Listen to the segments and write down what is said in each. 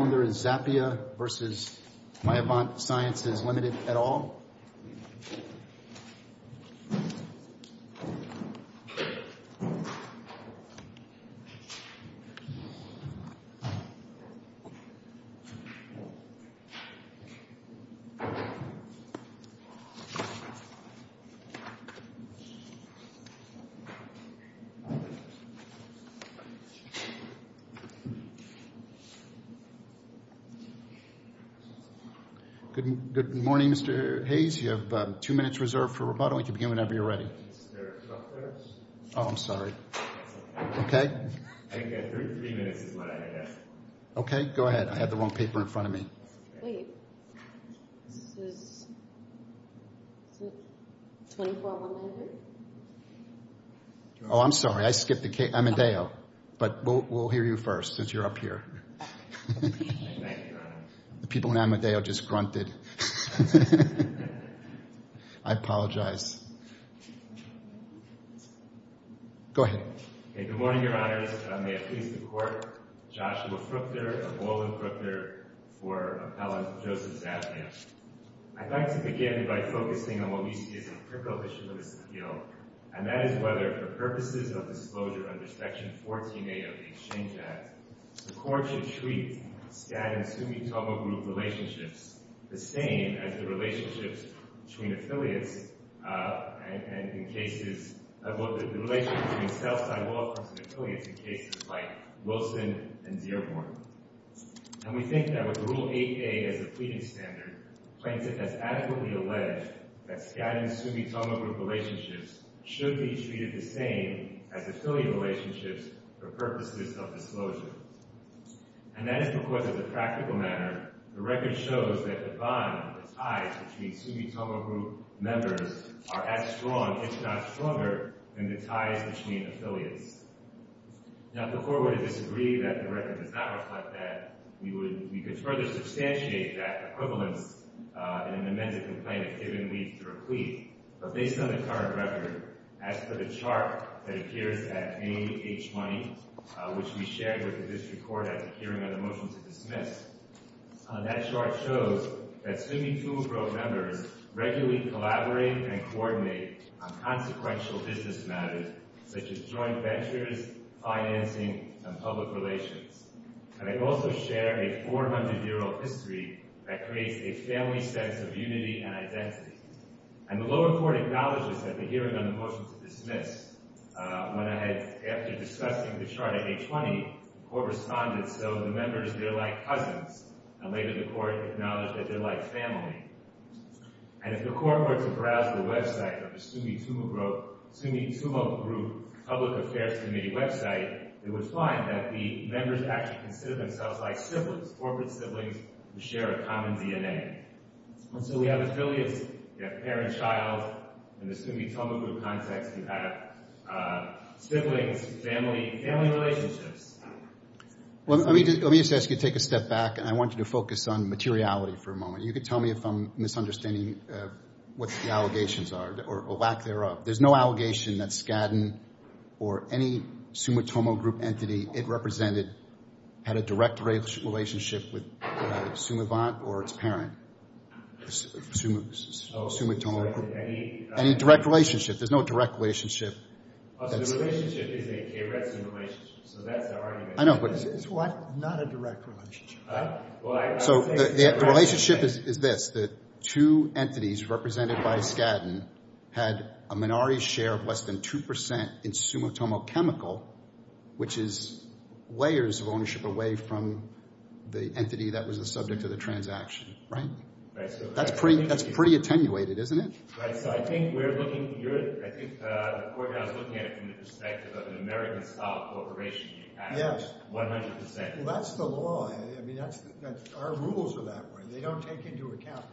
Zappia v. Myovant Sciences Ltd. Good morning, Mr. Hayes. You have two minutes reserved for rebuttal. You can begin whenever you're ready. Is there a 12th verse? Oh, I'm sorry. That's okay. Okay. I think that three minutes is what I had. Okay, go ahead. I have the wrong paper in front of me. Wait. This is 24th of November? Oh, I'm sorry. I skipped the case. I'm in Dayo. But we'll hear you first since you're up here. Thank you, Your Honor. The people in Amadeo just grunted. I apologize. Go ahead. Okay, good morning, Your Honors. May it please the Court. Joshua Fruchter of Baldwin-Fruchter for Appellant Joseph Zappia. I'd like to begin by focusing on what we see as a precondition of this appeal, and that is whether, for purposes of disclosure under Section 14A of the Exchange Act, the Court should treat Skadden-Sumitomo Group relationships the same as the relationships between affiliates and in cases—the relationships between Southside law firms and affiliates in cases like Wilson and Dearborn. And we think that with Rule 8A as the pleading standard, Plaintiff has adequately alleged that Skadden-Sumitomo Group relationships should be treated the same as affiliate relationships for purposes of disclosure. And that is because, in a practical manner, the record shows that the bond, the ties between Sumitomo Group members are as strong, if not stronger, than the ties between affiliates. Now, if the Court were to disagree that the record does not reflect that, we could further substantiate that equivalence in an amended complaint if given leave to replete. But based on the current record, as per the chart that appears at page 20, which we shared with the District Court at the hearing on the motion to dismiss, that chart shows that Sumitomo Group members regularly collaborate and coordinate on consequential business matters such as joint ventures, financing, and public relations. And I also share a 400-year-old history that creates a family sense of unity and identity. And the lower court acknowledged this at the hearing on the motion to dismiss. When I had, after discussing the chart at page 20, the Court responded, so the members, they're like cousins. And later the Court acknowledged that they're like family. And if the Court were to browse the website of the Sumitomo Group Public Affairs Committee website, it would find that the members actually consider themselves like siblings, corporate siblings who share a common DNA. And so we have as early as parent-child in the Sumitomo Group context, you have siblings, family, family relationships. Well, let me just ask you to take a step back, and I want you to focus on materiality for a moment. You can tell me if I'm misunderstanding what the allegations are or lack thereof. There's no allegation that Skadden or any Sumitomo Group entity it represented had a direct relationship with Sumavant or its parent, Sumitomo Group. Any direct relationship. There's no direct relationship. The relationship is a K-REDSIM relationship, so that's the argument. It's not a direct relationship. So the relationship is this. The two entities represented by Skadden had a minority share of less than 2% in Sumitomo Chemical, which is layers of ownership away from the entity that was the subject of the transaction, right? That's pretty attenuated, isn't it? Right, so I think we're looking at it from the perspective of an American-style corporation. Yes. 100%. Well, that's the law. I mean, our rules are that way. They don't take into account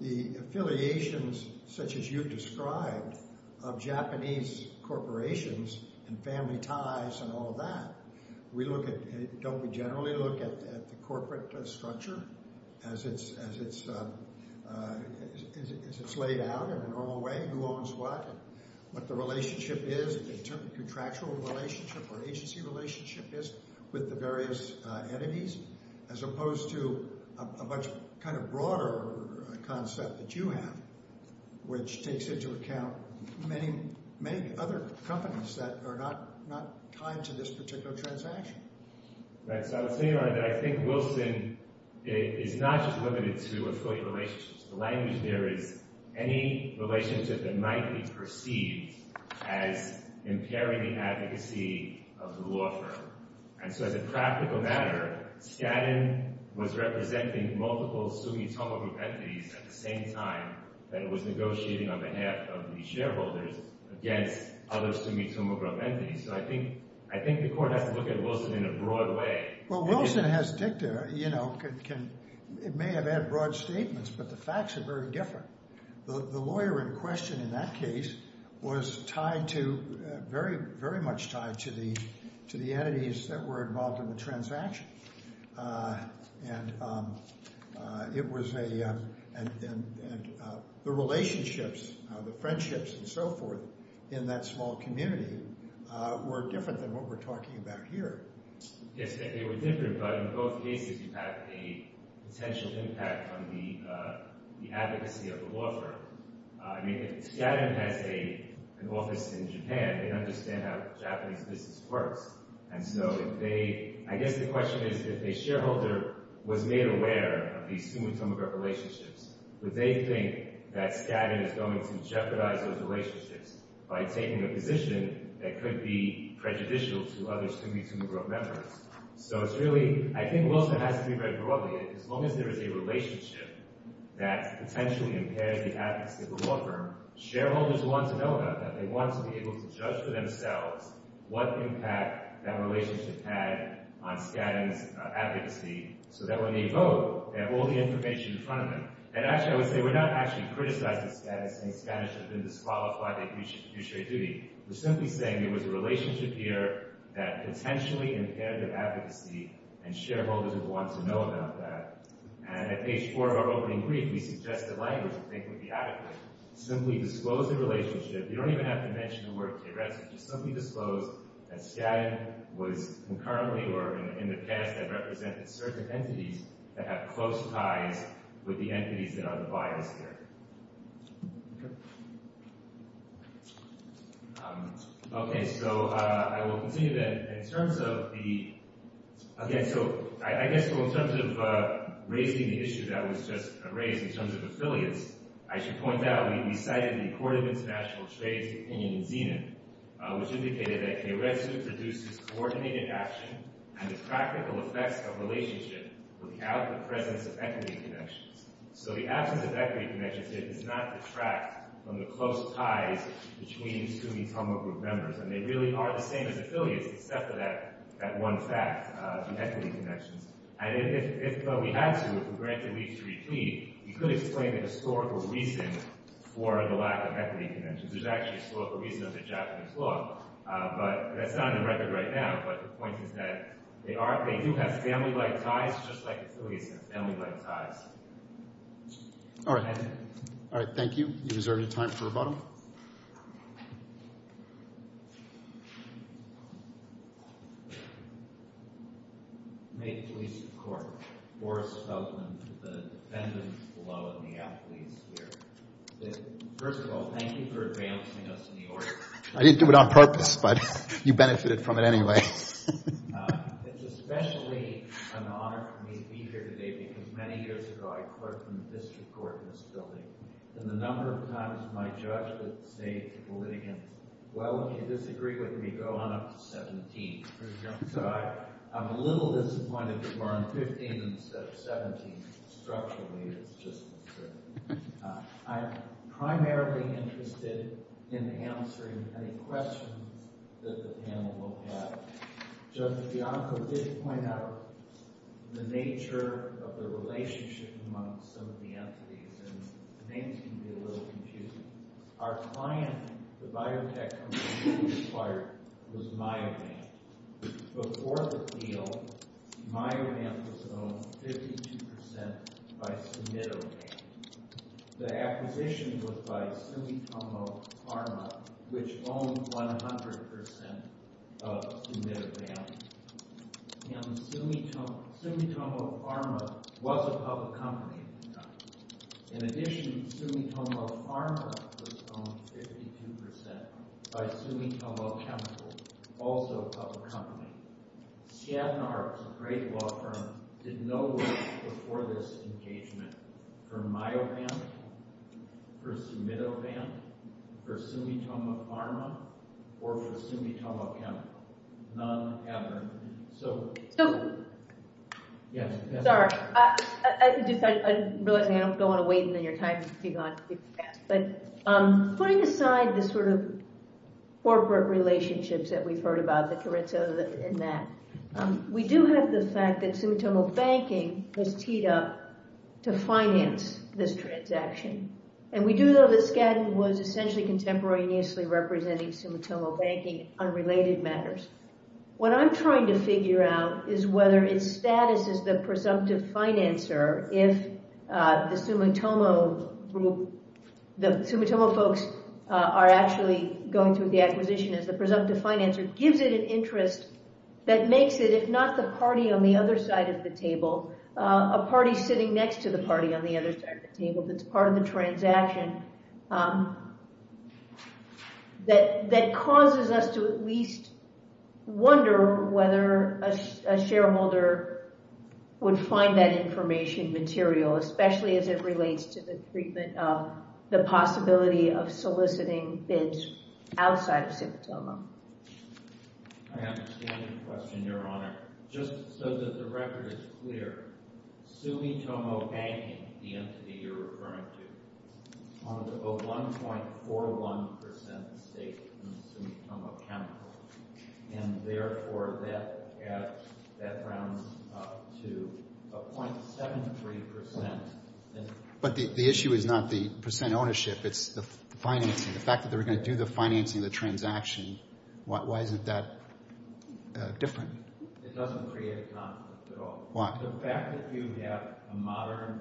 the affiliations, such as you've described, of Japanese corporations and family ties and all of that. Don't we generally look at the corporate structure as it's laid out in a normal way? Who owns what? What the relationship is, the contractual relationship or agency relationship is with the various enemies, as opposed to a much kind of broader concept that you have, which takes into account many other companies that are not tied to this particular transaction. Right, so I would say that I think Wilson is not just limited to affiliate relationships. The language there is any relationship that might be perceived as impairing the advocacy of the law firm. And so as a practical matter, Skadden was representing multiple Sumitomo Group entities at the same time that it was negotiating on behalf of the shareholders against other Sumitomo Group entities. So I think the court has to look at Wilson in a broad way. Well, Wilson has dicta, you know. It may have had broad statements, but the facts are very different. The lawyer in question in that case was tied to, very much tied to, the entities that were involved in the transaction. And it was a, the relationships, the friendships and so forth in that small community were different than what we're talking about here. Yes, they were different. But in both cases, you have a potential impact on the advocacy of the law firm. I mean, Skadden has an office in Japan. They understand how Japanese business works. And so if they, I guess the question is, if a shareholder was made aware of these Sumitomo Group relationships, would they think that Skadden is going to jeopardize those relationships by taking a position that could be prejudicial to other Sumitomo Group members? So it's really, I think Wilson has to be read broadly. As long as there is a relationship that potentially impairs the advocacy of a law firm, shareholders want to know about that. They want to be able to judge for themselves what impact that relationship had on Skadden's advocacy so that when they vote, they have all the information in front of them. And actually, I would say we're not actually criticizing Skadden, saying Skadden should have been disqualified, they should have produced straight duty. We're simply saying there was a relationship here that potentially impaired the advocacy and shareholders would want to know about that. And at page four of our opening brief, we suggest a language we think would be adequate. Simply disclose the relationship. You don't even have to mention the word theoretic. Just simply disclose that Skadden was concurrently or in the past had represented certain entities that have close ties with the entities that are the buyers here. Okay, so I will continue then. In terms of the – again, so I guess in terms of raising the issue that was just raised in terms of affiliates, I should point out we cited the Court of International Trade's opinion in Zenon, which indicated that a red strip reduces coordinated action and the practical effects of a relationship without the presence of equity connections. So the absence of equity connections, it does not detract from the close ties between Suomi Tama Group members. And they really are the same as affiliates, except for that one fact, the equity connections. And if we had to, if we were going to have to re-plead, we could explain the historical reason for the lack of equity connections. There's actually a historical reason under Japanese law, but that's not on the record right now. But the point is that they are – they do have family-like ties, just like affiliates have family-like ties. All right. All right, thank you. You reserve your time for rebuttal. First of all, thank you for advancing us in the order. I didn't do it on purpose, but you benefited from it anyway. Are there any questions that the panel will have? Judge Bianco did point out the nature of the relationship among some of the entities, and the names can be a little confusing. Our client, the biotech company we acquired, was Myodam. Before the deal, Myodam was owned 52 percent by Sumido Dam. The acquisition was by Sumitomo Pharma, which owned 100 percent of Sumido Dam. And Sumitomo Pharma was a public company at the time. In addition, Sumitomo Pharma was owned 52 percent by Sumitomo Chemical, also a public company. Seattle Arts, a great law firm, did no work before this engagement for Myodam, for Sumido Dam, for Sumitomo Pharma, or for Sumitomo Chemical. None ever. Sorry. I'm realizing I don't want to wait on your time to be gone too fast. Putting aside the sort of corporate relationships that we've heard about, the Carrizo and that, we do have the fact that Sumitomo Banking has teed up to finance this transaction. And we do know that Skadden was essentially contemporaneously representing Sumitomo Banking on related matters. What I'm trying to figure out is whether its status as the presumptive financer, if the Sumitomo folks are actually going through the acquisition as the presumptive financer, gives it an interest that makes it, if not the party on the other side of the table, a party sitting next to the party on the other side of the table that's part of the transaction, that causes us to at least wonder whether a shareholder would find that information material, especially as it relates to the treatment of the possibility of soliciting bids outside of Sumitomo. I have a standard question, Your Honor. Just so that the record is clear, Sumitomo Banking, the entity you're referring to, is a 1.41% stake in Sumitomo Chemicals, and therefore that rounds to 0.73%. But the issue is not the percent ownership, it's the financing. The fact that they were going to do the financing of the transaction, why isn't that different? It doesn't create a conflict at all. Why? The fact that you have a modern,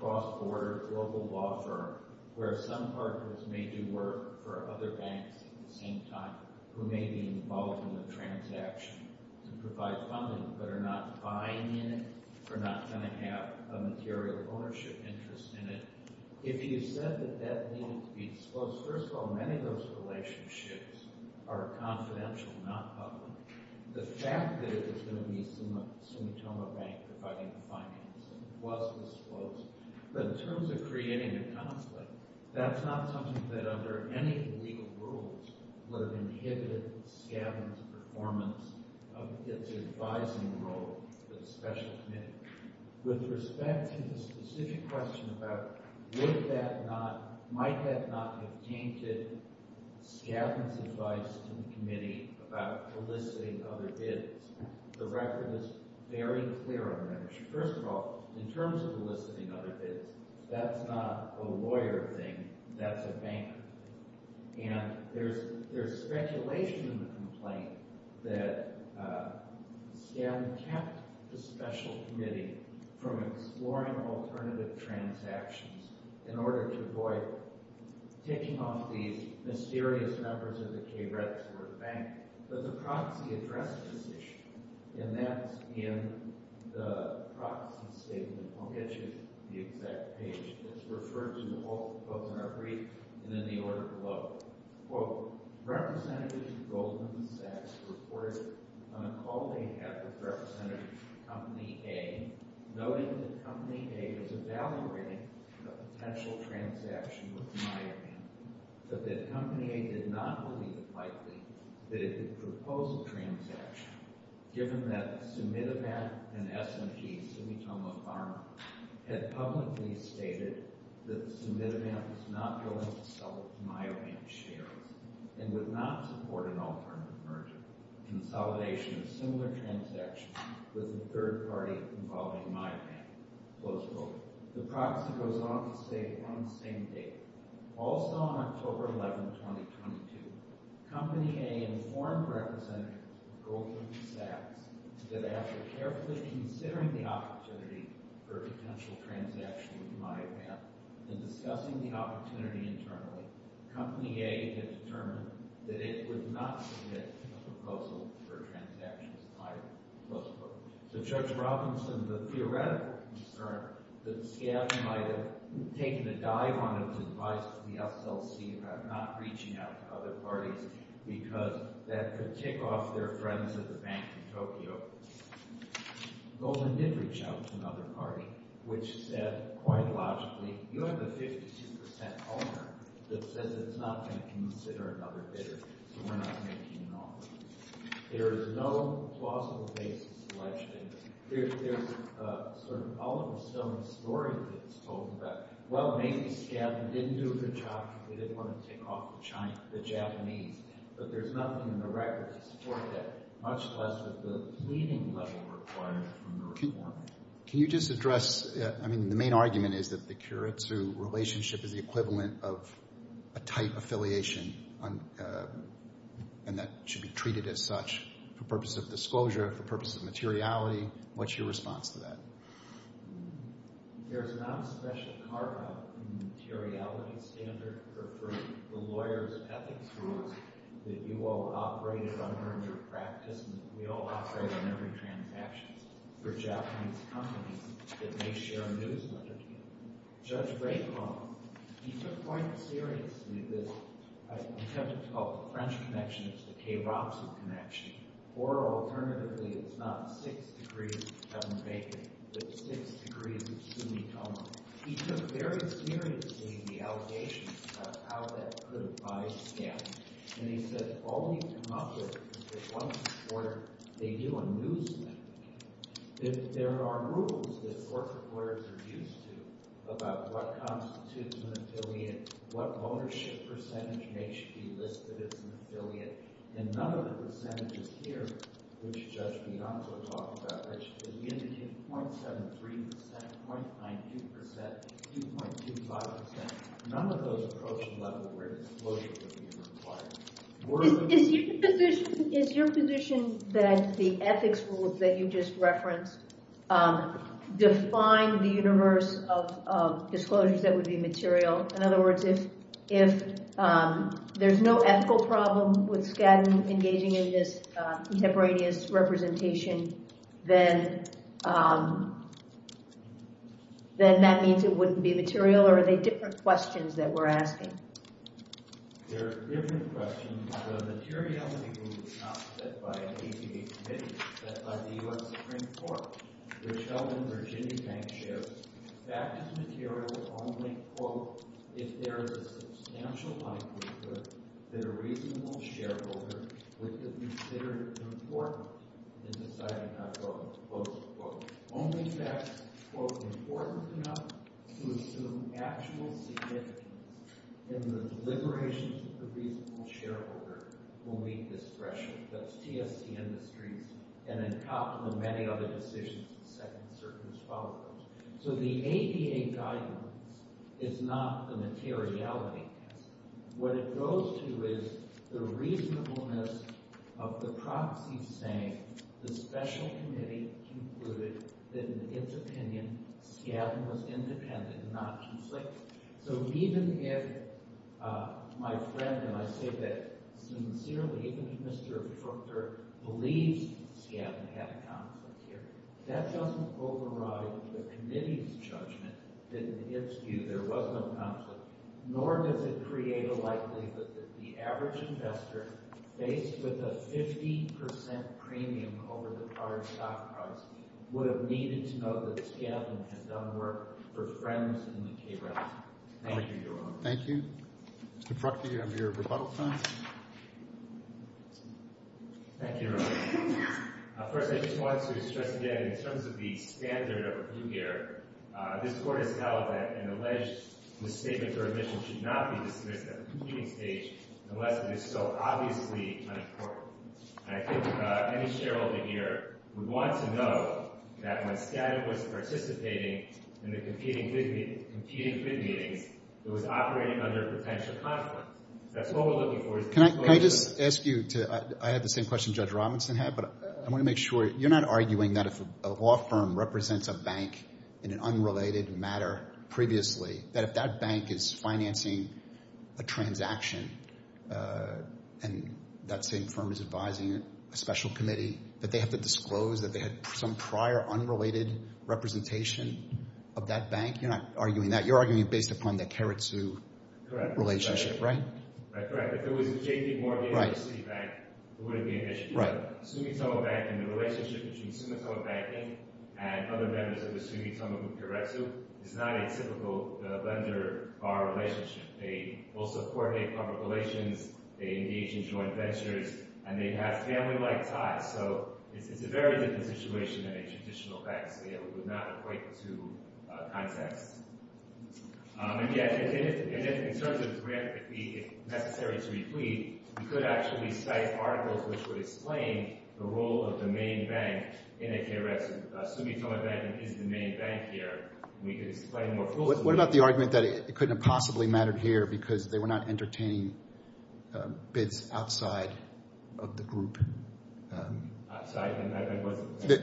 cross-border, global law firm, where some partners may do work for other banks at the same time, who may be involved in the transaction to provide funding, but are not buying in it, are not going to have a material ownership interest in it. If you said that that needed to be disclosed, first of all, many of those relationships are confidential, not public. The fact that it was going to be Sumitomo Bank providing the financing was disclosed. But in terms of creating a conflict, that's not something that under any legal rules would have inhibited SCADMAN's performance of its advising role to the special committee. With respect to the specific question about would that not, might that not have tainted SCADMAN's advice to the committee about eliciting other bids, the record is very clear on that issue. First of all, in terms of eliciting other bids, that's not a lawyer thing, that's a banker thing. And there's speculation in the complaint that SCADMAN kept the special committee from exploring alternative transactions in order to avoid taking off these mysterious numbers that the KREPs were a bank. But the proxy addressed this issue, and that's in the proxy statement. I'll get you the exact page. It's referred to in all the quotes in our brief and in the order below. Quote, Representative Goldman Sachs reported on a call they had with Representative Company A, noting that Company A was evaluating a potential transaction with Miami, but that Company A did not believe it likely that it would propose a transaction, given that Sumitivant and S&P, Sumitomo Pharma, had publicly stated that Sumitivant was not willing to sell Miami shares and would not support an alternative merger. Consolidation of similar transactions with a third party involving Miami. Close quote. The proxy goes on to say, on the same day, also on October 11, 2022, Company A informed Representative Goldman Sachs that after carefully considering the opportunity for a potential transaction with Miami, and discussing the opportunity internally, Company A had determined that it would not submit a proposal for a transaction with Miami. Close quote. So, Judge Robinson, the theoretical concern that SCAF might have taken a dive on its advice to the SLC about not reaching out to other parties because that could tick off their friends at the bank in Tokyo. Goldman did reach out to another party, which said, quite logically, you have a 52% holder that says it's not going to consider another bidder, so we're not making an offer. There is no plausible basis alleged in this. There's sort of an olive stone story that's told about, well, maybe SCAF didn't do a good job, they didn't want to tick off the Japanese, but there's nothing in the record to support that, much less with the pleading level required from the reform. Can you just address, I mean, the main argument is that the Kurotsu relationship is the equivalent of a tight affiliation and that it should be treated as such for purposes of disclosure, for purposes of materiality. What's your response to that? There is not a special carve-out in the materiality standard for the lawyers' ethics rules that you all operate under in your practice, and we all operate on every transaction. There are Japanese companies that may share a news link with you. Judge Raikkonen, he took quite seriously this, I tend to call it the French connection, it's the Kurotsu connection, or alternatively, it's not six degrees Kevin Bacon, but six degrees Sumitomo. He took very seriously the allegations about how that could buy SCAF, and he said, all you come up with is this one supporter, they do a news link. There are rules that court reporters are used to about what constitutes an affiliate, what ownership percentage may should be listed as an affiliate, and none of the percentages here, which Judge Bianco talked about, is limited to .73%, .92%, and 2.25%. None of those approach the level where disclosure would be required. Is your position that the ethics rules that you just referenced define the universe of disclosures that would be material? In other words, if there's no ethical problem with Skadden engaging in this contemporaneous representation, then that means it wouldn't be material, or are they different questions that we're asking? They're different questions. The materiality rule is not set by an APA committee, it's set by the U.S. Supreme Court, which held in Virginia Bank shares. That is material only, quote, if there is a substantial likelihood that a reasonable shareholder would consider it important in deciding not to, quote, quote, quote. Only facts, quote, important enough to assume actual significance in the deliberations of the reasonable shareholder will meet this threshold. That's TSC Industries and a couple of many other decisions in the second circuit as follows. So the APA guidance is not the materiality test. What it goes to is the reasonableness of the proxies saying the special committee concluded that in its opinion Skadden was independent and not conflicted. So even if my friend, and I say that sincerely, even if Mr. Fruchter believes Skadden had a conflict here, that doesn't override the committee's judgment that in its view there was no conflict, nor does it create a likelihood that the average investor faced with a 50% premium over the prior stock price would have needed to know that Skadden had done work for friends in the K-Brown. Thank you, Your Honor. Thank you. Mr. Fruchter, you have your rebuttal time. Thank you, Your Honor. First, I just wanted to stress again in terms of the standard of blue gear, this Court has held that an alleged misstatement or omission should not be dismissed at the competing stage unless it is so obviously unimportant. And I think any shareholder here would want to know that when Skadden was participating in the competing bid meetings, it was operating under potential conflict. That's what we're looking for. Can I just ask you to – I have the same question Judge Robinson had, but I want to make sure – you're not arguing that if a law firm represents a bank in an unrelated matter previously, that if that bank is financing a transaction and that same firm is advising a special committee, that they have to disclose that they had some prior unrelated representation of that bank? You're not arguing that. You're arguing based upon the Karatsu relationship, right? That's correct. If it was J.P. Morgan or Citibank, it wouldn't be an issue. Sumitomo Bank and the relationship between Sumitomo Banking and other members of the Sumitomo group Karatsu is not a typical vendor-buyer relationship. They also coordinate public relations. They engage in joint ventures, and they have family-like ties. So it's a very different situation than a traditional bank, so it would not equate to context. And, yes, in terms of grant, if necessary to replete, we could actually cite articles which would explain the role of the main bank in a Karatsu. Sumitomo Banking is the main bank here. We could explain more fulsomely. What about the argument that it couldn't have possibly mattered here because they were not entertaining bids outside of the group? Outside?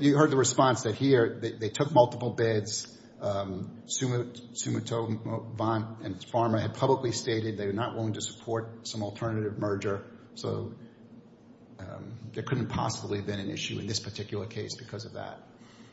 You heard the response that here they took multiple bids. Sumitomo Bank and Pharma had publicly stated they were not willing to support some alternative merger, so there couldn't have possibly been an issue in this particular case because of that.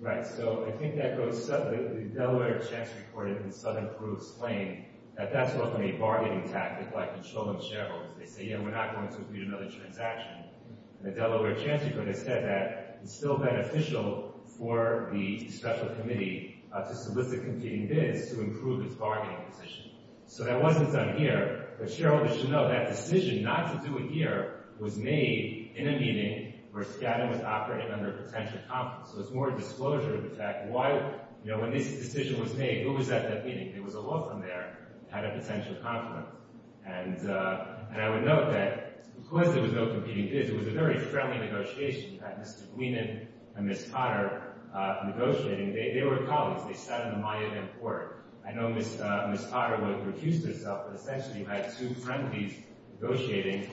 Right. So I think that goes to the Delaware checks reported in Southern Peru's claim that that's more of a bargaining tactic like controlling shareholders. They say, yeah, we're not going to complete another transaction. And the Delaware Chancellor has said that it's still beneficial for the special committee to solicit competing bids to improve its bargaining position. So that wasn't done here. But shareholders should know that decision not to do it here was made in a meeting where Skadden was operating under a potential conflict. So it's more a disclosure of the fact why, you know, when this decision was made, who was at that meeting? It was a law firm there that had a potential conflict. And I would note that because there was no competing bids, it was a very friendly negotiation. You had Mr. Bleeman and Ms. Potter negotiating. They were colleagues. They sat in the Mayan court. I know Ms. Potter would have refused herself, but essentially you had two friendlies negotiating.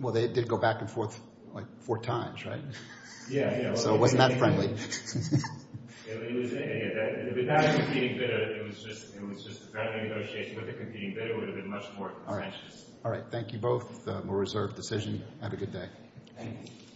Well, they did go back and forth like four times, right? Yeah, yeah. So it wasn't that friendly. Without a competing bid, it was just a friendly negotiation with a competing bid. All right. Thank you both. More reserved decision. Have a good day. Thank you.